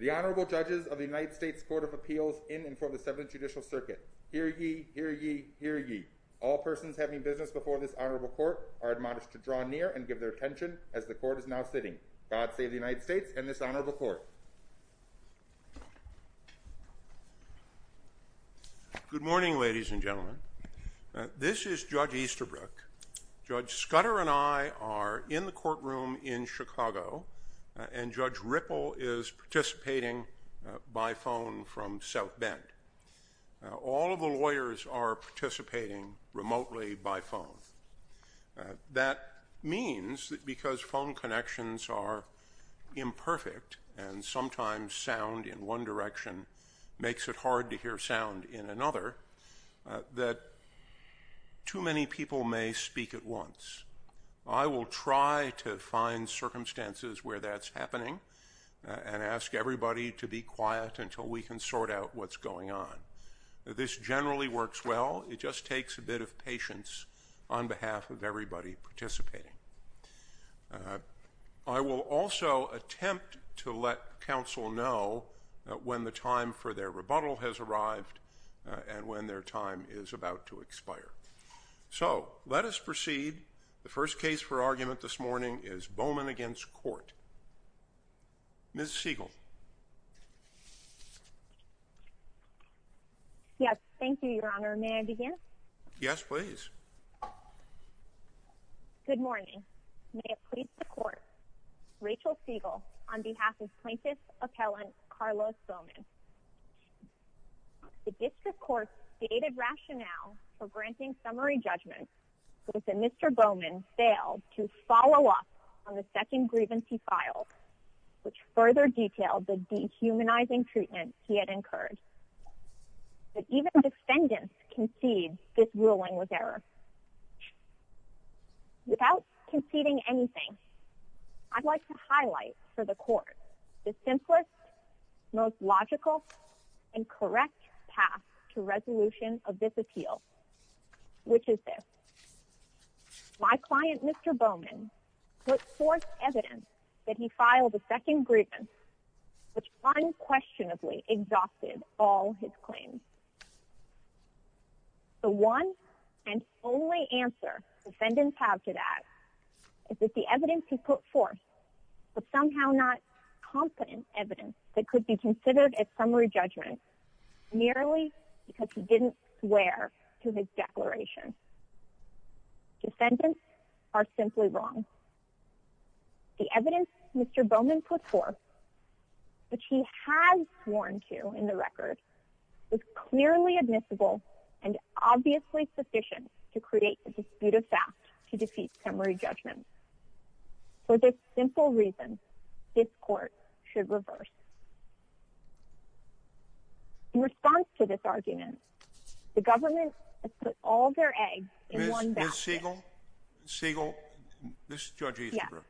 The Honorable Judges of the United States Court of Appeals in and for the Seventh Judicial Circuit. Hear ye, hear ye, hear ye. All persons having business before this honorable court are admonished to draw near and give their attention as the court is now sitting. God save the United States and this honorable court. Good morning ladies and gentlemen. This is Judge Easterbrook. Judge Scudder and I are in the courtroom in Chicago and Judge Ripple is participating by phone from South Bend. All of the lawyers are participating remotely by phone. That means that because phone connections are imperfect and sometimes sound in one direction makes it hard to hear sound in another, that too many people may speak at once. I will try to find circumstances where that's happening and ask everybody to be quiet until we can sort out what's going on. This generally works well. It just takes a bit of patience on behalf of everybody participating. I will also attempt to let counsel know when the time for their rebuttal has arrived and when their time is about to expire. So let us proceed. The first case for argument this morning is Bowman v. Korte. Ms. Siegel. Yes. Thank you, Your Honor. May I begin? Yes, please. Good morning. May it please the court, Rachel Siegel on behalf of plaintiff's appellant Carlos Bowman. The district court stated rationale for granting summary judgment was that Mr. Bowman failed to follow up on the second grievance he filed, which further detailed the dehumanizing treatment he had incurred, that even defendants concede this ruling was error. Without conceding anything, I'd like to highlight for the court the simplest, most logical and correct path to resolution of this appeal, which is this. My client, Mr. Bowman, put forth evidence that he filed a second grievance, which unquestionably exhausted all his claims. The one and only answer defendants have to that is that the evidence he put forth was somehow not competent evidence that could be considered a summary judgment merely because he didn't swear to his declaration. Defendants are simply wrong. The evidence Mr. Bowman put forth, which he has sworn to in the record, was clearly admissible and obviously sufficient to create the dispute of fact to defeat summary judgment. For this simple reason, this court should reverse. In response to this argument, the government has put all their eggs in one basket. Ms. Siegel? Ms. Siegel? This is Judge Easterbrook.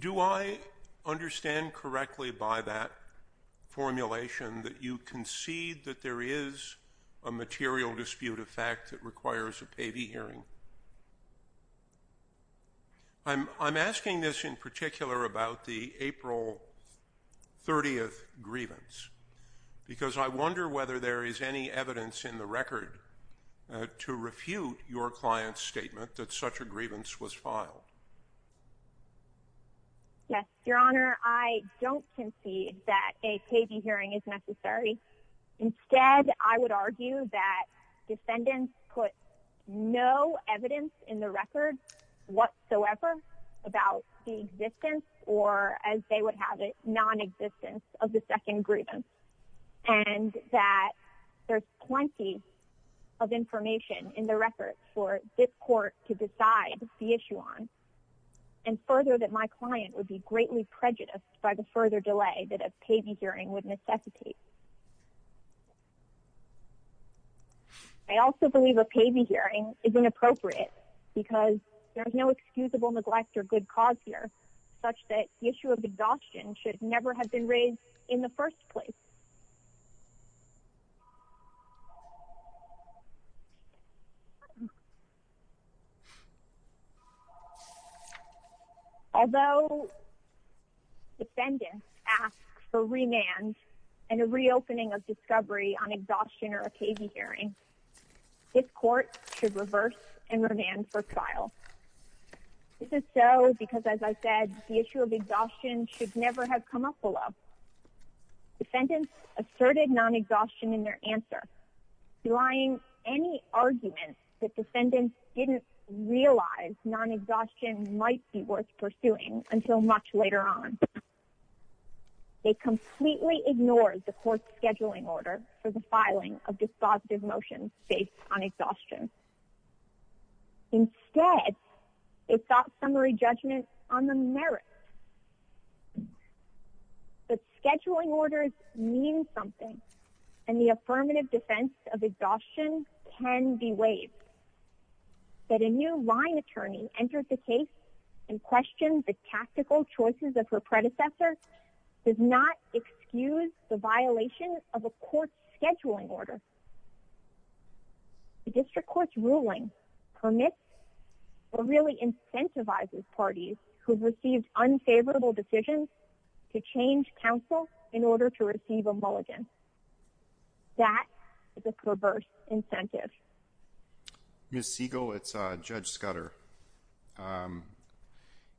Do I understand correctly by that formulation that you concede that there is a material dispute of fact that requires a payee hearing? I'm asking this in particular about the April 30th grievance because I wonder whether there is any evidence in the record to refute your client's statement that such a grievance was filed. Yes, Your Honor, I don't concede that a payee hearing is necessary. Instead, I would argue that defendants put no evidence in the record whatsoever about the existence or, as they would have it, non-existence of the second grievance and that there's plenty of information in the record for this court to decide the issue on and further that my I also believe a payee hearing is inappropriate because there is no excusable neglect or good cause here such that the issue of exhaustion should never have been raised in the first place. Although defendants ask for remand and a reopening of discovery on exhaustion or a payee hearing, this court should reverse and remand for trial. This is so because, as I said, the issue of exhaustion should never have come up below. Defendants asserted non-exhaustion in their answer, denying any argument that defendants didn't realize non-exhaustion might be worth pursuing until much later on. They completely ignored the court's scheduling order for the filing of dispositive motions based on exhaustion. Instead, they sought summary judgment on the merits. But scheduling orders mean something, and the affirmative defense of exhaustion can be waived. That a new line attorney entered the case and questioned the tactical choices of her predecessor does not excuse the violation of a court's scheduling order. The district court's ruling permits or really incentivizes parties who've received unfavorable decisions to change counsel in order to receive a mulligan. That is a perverse incentive. Ms. Siegel, it's Judge Scudder.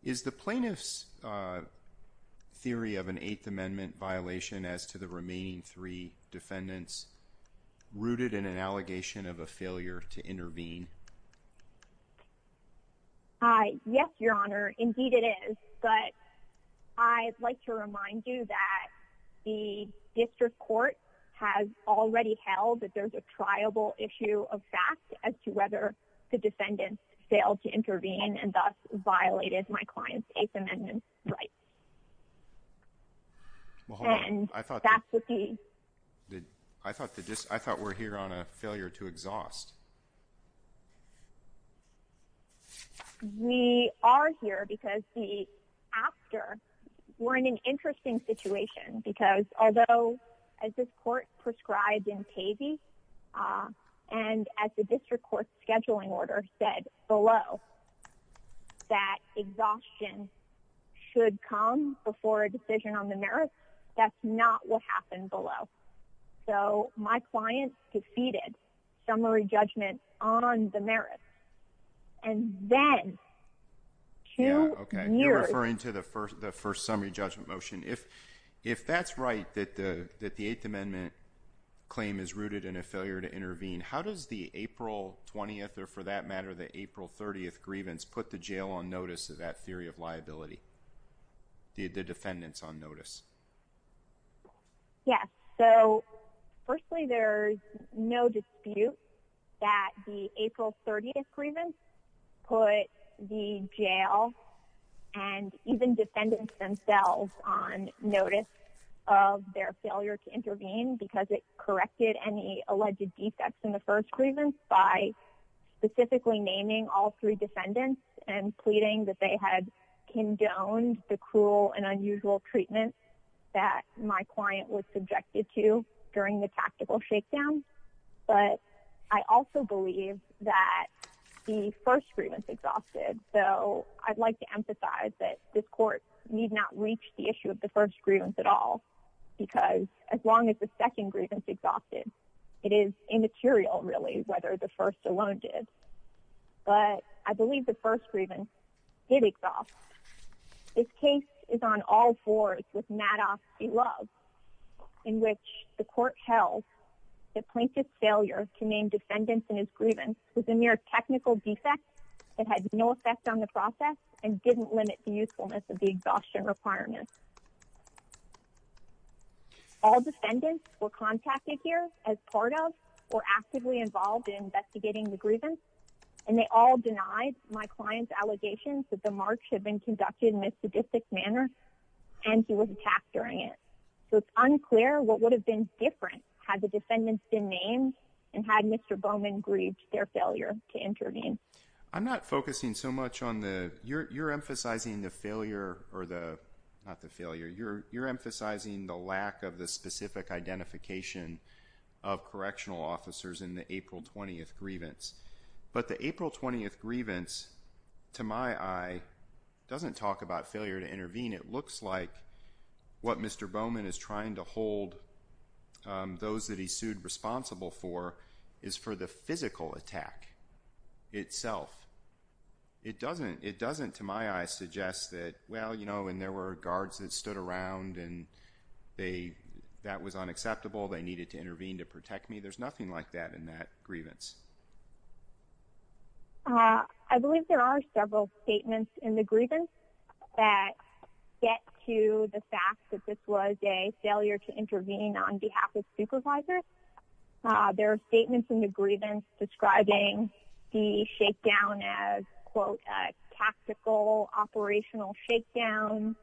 Is the plaintiff's theory of an Eighth Amendment violation as to the remaining three defendants rooted in an allegation of a failure to intervene? Yes, Your Honor. Indeed, it is. But I'd like to remind you that the district court has already held that there's a triable issue of fact as to whether the defendants failed to intervene and thus violated my client's Eighth Amendment rights. I thought we're here on a failure to exhaust. We are here because after we're in an interesting situation because although as this court prescribed in Pavey and as the district court's scheduling order said below that exhaustion should come before a decision on the merit, that's not what happened below. So my client defeated summary judgment on the merit. And then two years- Yeah, okay. You're referring to the first summary judgment motion. If that's right, that the Eighth Amendment claim is rooted in a failure to intervene, how does the April 20th or for that matter the April 30th grievance put the jail on notice of that theory of liability, the defendants on notice? Yes. So firstly, there's no dispute that the April 30th grievance put the jail and even defendants themselves on notice of their failure to intervene because it corrected any alleged defects in the first grievance by specifically naming all three defendants and pleading that they had condoned the cruel and unusual treatment that my client was subjected to during the tactical shakedown. But I also believe that the first grievance exhausted. So I'd like to emphasize that this court need not reach the issue of the first grievance at all because as long as the second grievance exhausted, it is immaterial really whether the first alone did. But I believe the first grievance did exhaust. This case is on all fours with Madoff beloved in which the court held the plaintiff's failure to name defendants in his grievance with a mere technical defect that had no effect on the process and didn't limit the usefulness of the exhaustion requirements. All defendants were contacted here as part of or actively involved in investigating the grievance and they all denied my client's allegations that the march had been conducted in a sadistic manner and he was attacked during it. So it's unclear what would have been different had the defendants been named and had Mr. Bowman grieved their failure to intervene. I'm not focusing so much on the you're you're emphasizing the failure or the not the failure you're you're emphasizing the lack of the specific identification of correctional officers in the April 20th grievance. But the April 20th grievance to my eye doesn't talk about failure to intervene. It looks like what Mr. Bowman is trying to hold those that he sued responsible for is for the physical attack itself. It doesn't it doesn't to my eye suggest that well you know and there were guards that stood around and they that was unacceptable. They needed to intervene to protect me. There's nothing like that in that grievance. I believe there are several statements in the grievance that get to the fact that this was a failure to intervene on behalf of supervisors. There are statements in the grievance describing the shakedown as quote tactical operational shakedown.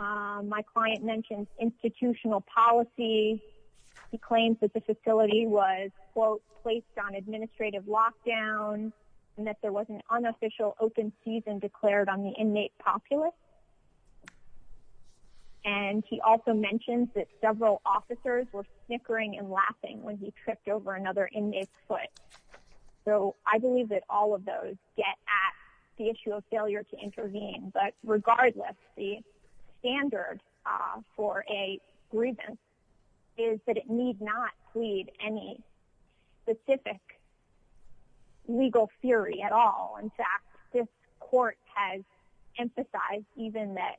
My client mentioned institutional policy. He claims that the facility was quote placed on administrative lockdown and that there was an unofficial open season declared on the inmate populace. And he also mentioned that several officers were snickering and laughing when he tripped over another inmate's foot. So I believe that all of those get at the issue of failure to intervene. But regardless, the standard for a grievance is that it need not plead any specific legal theory at all. In fact, this court has emphasized even that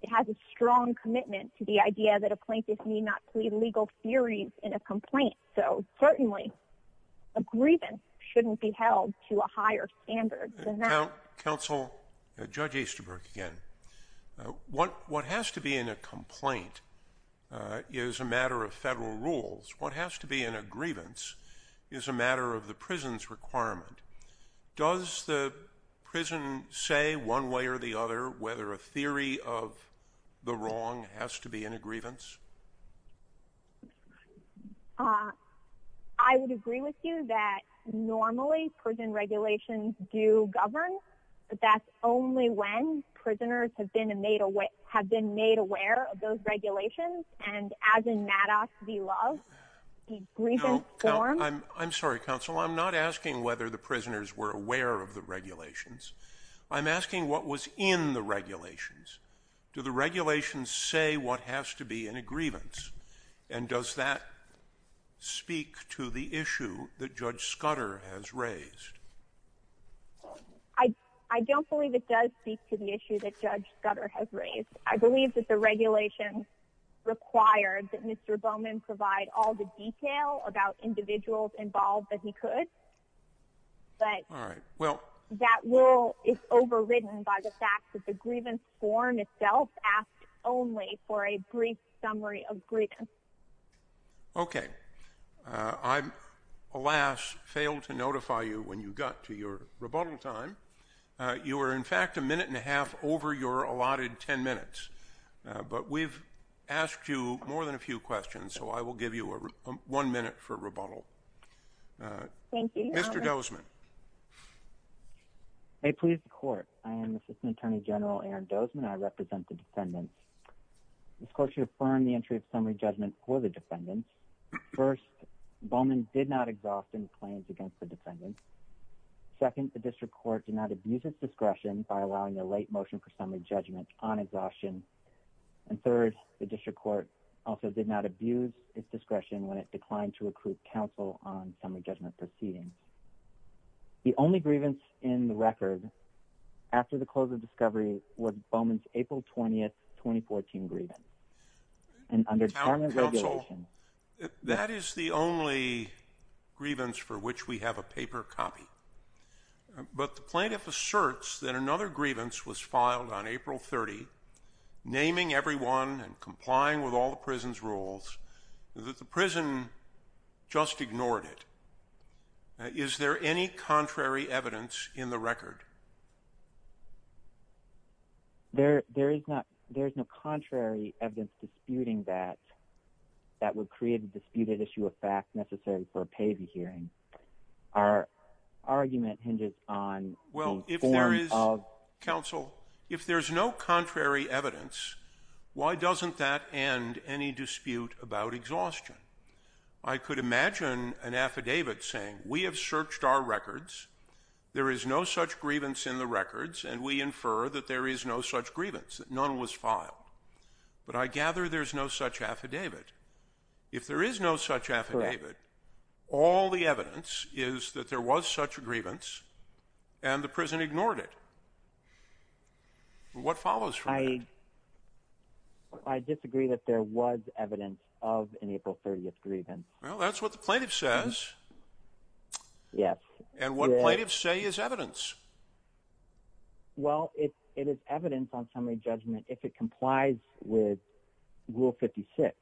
it has a strong commitment to the idea that a plaintiff need not plead legal theories in a complaint. So certainly a grievance shouldn't be held to a higher standard than that. Counsel, Judge Easterbrook again. What has to be in a complaint is a matter of federal rules. What has to be in a grievance is a matter of the prison's requirement. Does the prison say one way or the other whether a theory of the wrong has to be in a grievance? I would agree with you that normally prison regulations do govern, but that's only when prisoners have been made aware of those regulations and as in Maddox v. Love, the grievance form. No, I'm sorry, counsel. I'm not asking whether the prisoners were aware of the regulations. I'm asking what was in the regulations. And does that speak to the issue that Judge Scudder has raised? I don't believe it does speak to the issue that Judge Scudder has raised. I believe that the regulations required that Mr. Bowman provide all the detail about individuals involved that he could, but that rule is overridden by the fact that grievance form itself asked only for a brief summary of grievance. Okay, I, alas, failed to notify you when you got to your rebuttal time. You were in fact a minute and a half over your allotted 10 minutes, but we've asked you more than a few questions, so I will give you one minute for rebuttal. Thank you. Mr. Dozman. Hey, please, the court. I am Assistant Attorney General Aaron Dozman. I represent the defendants. This court should affirm the entry of summary judgment for the defendants. First, Bowman did not exhaust any claims against the defendants. Second, the district court did not abuse its discretion by allowing the late motion for summary judgment on exhaustion. And third, the district court also did not abuse its discretion when it declined to recruit counsel on summary judgment proceedings. The only grievance in the record, after the close of discovery, was Bowman's April 20th, 2014, grievance. And under department regulations— Town Council, that is the only grievance for which we have a paper copy. But the plaintiff asserts that another grievance was filed on April 30, naming everyone and complying with all the prison's rules, that the prison just ignored it. Now, is there any contrary evidence in the record? There, there is not. There is no contrary evidence disputing that, that would create a disputed issue of fact necessary for a PAVI hearing. Our argument hinges on the form of— Well, if there is, counsel, if there's no contrary evidence, why doesn't that end any dispute about exhaustion? I could imagine an affidavit saying, we have searched our records, there is no such grievance in the records, and we infer that there is no such grievance, that none was filed. But I gather there's no such affidavit. If there is no such affidavit, all the evidence is that there was such a grievance, and the prison ignored it. What follows from that? I disagree that there was evidence of an April 30th grievance. Well, that's what the plaintiff says. Yes. And what plaintiffs say is evidence. Well, it is evidence on summary judgment if it complies with Rule 56.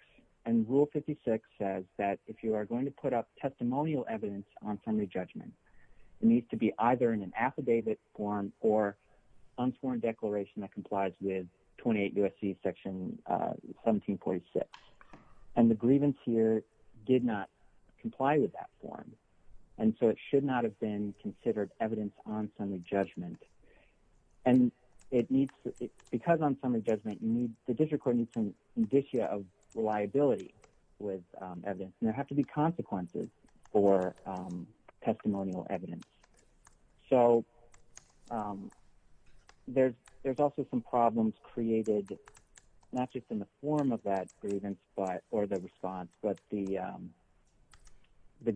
And Rule 56 says that if you are going to put up testimonial evidence on summary judgment, it needs to be either in an affidavit form or unsworn declaration that complies with 28 U.S.C. Section 1746. And the grievance here did not comply with that form. And so it should not have been considered evidence on summary judgment. And because on summary judgment, the district court needs some indicia of reliability with evidence. And there have to be consequences for testimonial evidence. So there's also some problems created, not just in the form of that grievance or the response, but the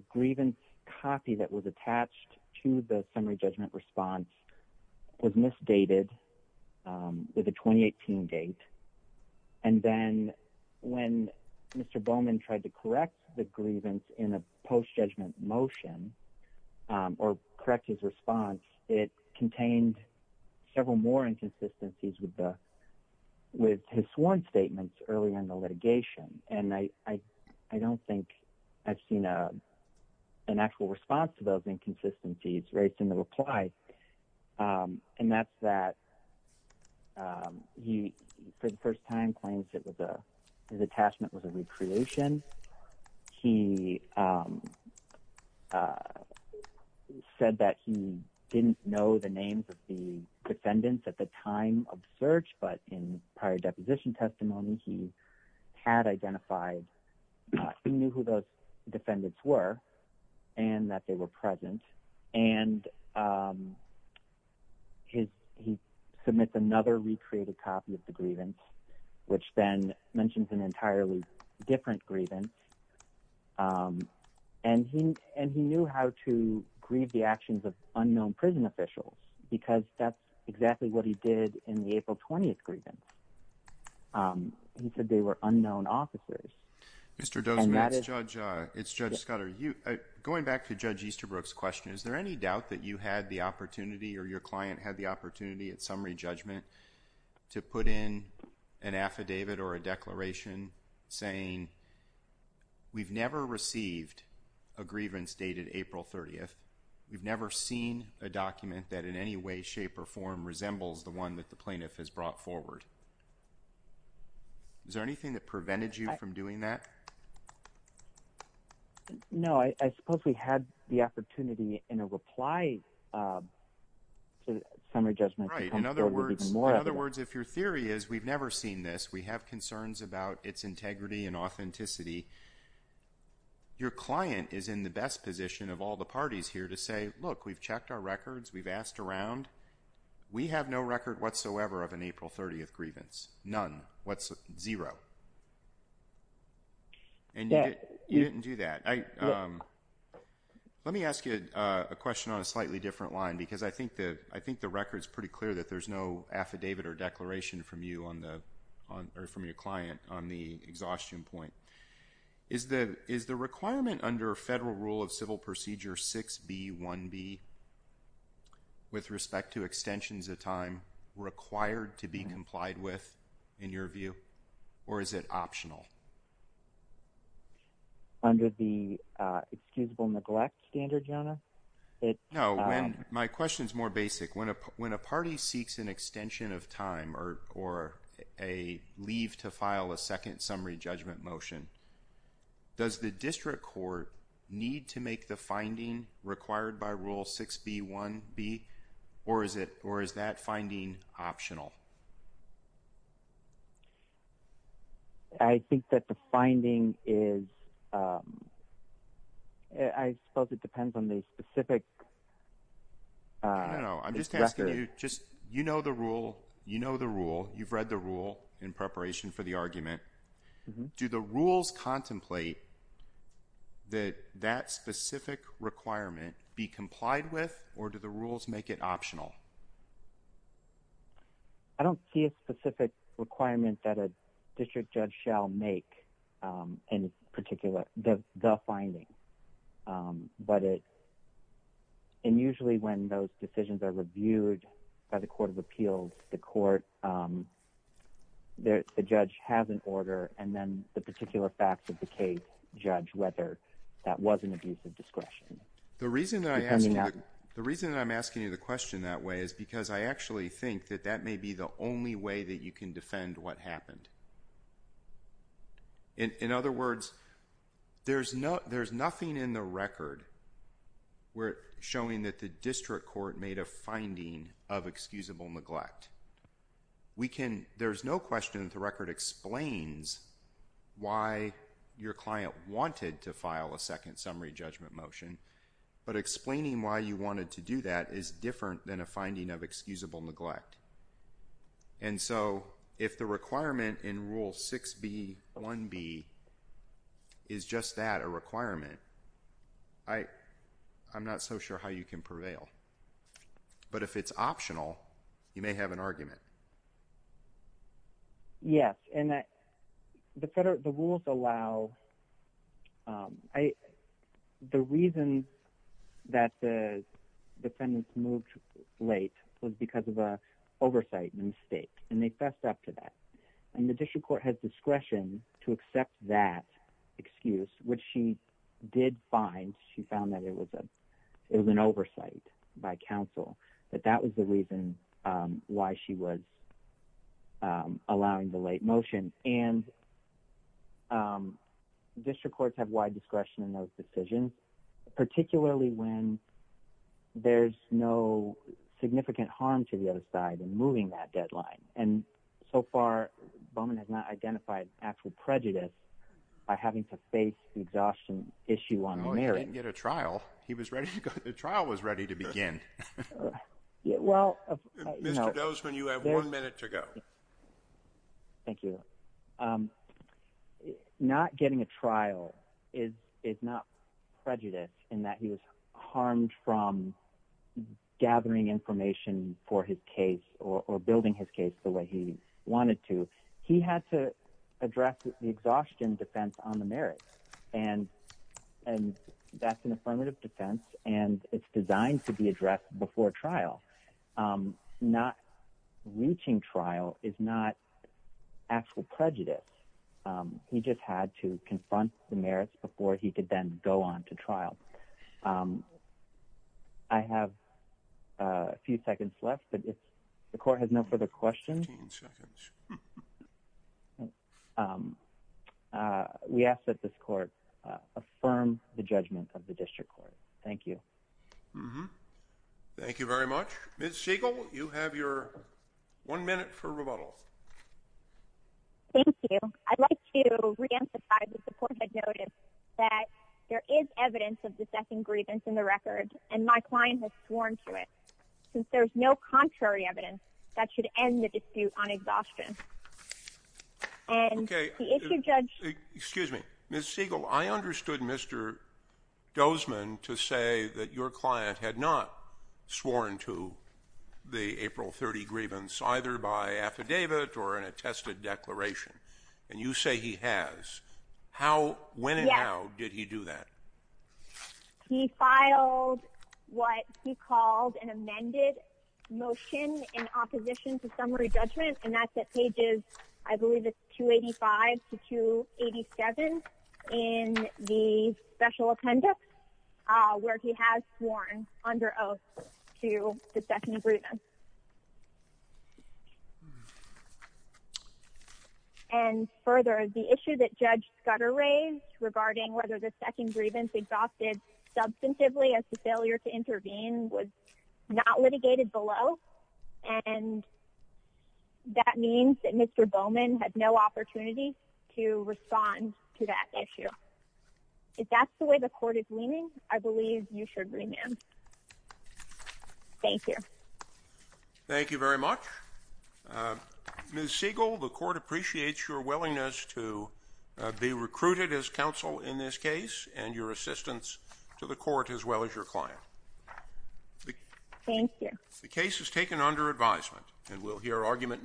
grievance copy that was attached to the summary judgment response was misdated with a 2018 date. And then when Mr. Bowman tried to correct the grievance in a post-judgment motion or correct his response, it contained several more inconsistencies with his sworn statements earlier in the litigation. And I don't think I've seen an actual response to those inconsistencies raised in the reply. And that's that he, for the first time, claims that his attachment was a recreation. He said that he didn't know the names of the defendants at the time of search, but in prior deposition testimony, he had identified who those defendants were and that they were present. And he submits another recreated copy of the grievance, which then mentions an entirely different grievance. And he knew how to grieve the actions of unknown prison officials because that's exactly what he did in the April 20th grievance. He said they were unknown officers. And that is- Mr. Dozman, it's Judge Scudder. Going back to Judge Easterbrook's question, is there any doubt that you had the opportunity or your client had the opportunity at summary judgment to put in an affidavit or a declaration saying, we've never received a grievance dated April 30th. We've never seen a document that in any way, shape or form resembles the one that the plaintiff has brought forward. Is there anything that prevented you from doing that? No, I suppose we had the opportunity in a reply to summary judgment. In other words, if your theory is we've never seen this, we have concerns about its integrity and authenticity. Your client is in the best position of all the parties here to say, look, we've checked our records. We've asked around. We have no record whatsoever of an April 30th grievance. None. What's zero. And you didn't do that. Let me ask you a question on a slightly different line, because I think the record is pretty clear that there's no affidavit or declaration from you or from your client on the exhaustion point. Is the requirement under federal rule of civil procedure 6B1B with respect to extensions of time required to be complied with in your view, or is it optional? Under the excusable neglect standard, Jonah? No, my question is more basic. When a party seeks an extension of time or a leave to file a second summary judgment motion, does the district court need to make the finding required by rule 6B1B, or is that finding optional? I think that the finding is, um, I suppose it depends on the specific. I don't know. I'm just asking you, just, you know, the rule, you know, the rule, you've read the rule in preparation for the argument. Do the rules contemplate that that specific requirement be complied with, or do the rules make it optional? I don't see a specific requirement that a district judge shall make in particular the finding, but it, and usually when those decisions are reviewed by the Court of Appeals, the court, the judge has an order, and then the particular facts of the case judge whether that was an abuse of discretion. The reason that I'm asking you the question that way is because I actually think that that may be the only way that you can defend what happened. In other words, there's no, there's nothing in the record where showing that the district court made a finding of excusable neglect. We can, there's no question that the record explains why your client wanted to file a second summary judgment motion, but explaining why you wanted to do that is different than a finding of excusable neglect. And so, if the requirement in Rule 6b-1b is just that, a requirement, I, I'm not so sure how you can prevail. But if it's optional, you may have an argument. Yes, and the rules allow, the reason that the defendants moved late was because of a oversight mistake, and they fessed up to that. And the district court has discretion to accept that excuse, which she did find. She found that it was a, it was an oversight by counsel, that that was the reason why she was allowing the late motion. And district courts have wide discretion in those decisions, particularly when there's no significant harm to the other side in moving that deadline. And so far, Bowman has not identified actual prejudice by having to face the exhaustion issue on the merits. He didn't get a trial. He was ready to go, the trial was ready to begin. Well, Mr. Dozman, you have one minute to go. Thank you. So, not getting a trial is, is not prejudice in that he was harmed from gathering information for his case or building his case the way he wanted to. He had to address the exhaustion defense on the merits. And, and that's an affirmative defense. And it's designed to be addressed before trial. So, not reaching trial is not actual prejudice. He just had to confront the merits before he could then go on to trial. I have a few seconds left, but if the court has no further questions, we ask that this court affirm the judgment of the district court. Thank you. Mm-hmm. Thank you very much. Ms. Siegel, you have your one minute for rebuttal. Thank you. I'd like to reemphasize the support I've noted that there is evidence of the second grievance in the record, and my client has sworn to it. Since there's no contrary evidence, that should end the dispute on exhaustion. And if you judge... Excuse me. Ms. Siegel, I understood Mr. Dozman to say that your client had not sworn to the April 30 grievance, either by affidavit or an attested declaration. And you say he has. How, when and how did he do that? He filed what he called an amended motion in opposition to summary judgment, and that's at pages, I believe it's 285 to 287. In the special appendix, where he has sworn under oath to the second grievance. And further, the issue that Judge Scudder raised regarding whether the second grievance exhausted substantively as the failure to intervene was not litigated below, and that means that Mr. Bowman had no opportunity to respond to that issue. If that's the way the court is leaning, I believe you should remand. Thank you. Thank you very much. Ms. Siegel, the court appreciates your willingness to be recruited as counsel in this case, and your assistance to the court as well as your client. Thank you. The case is taken under advisement and we'll hear argument.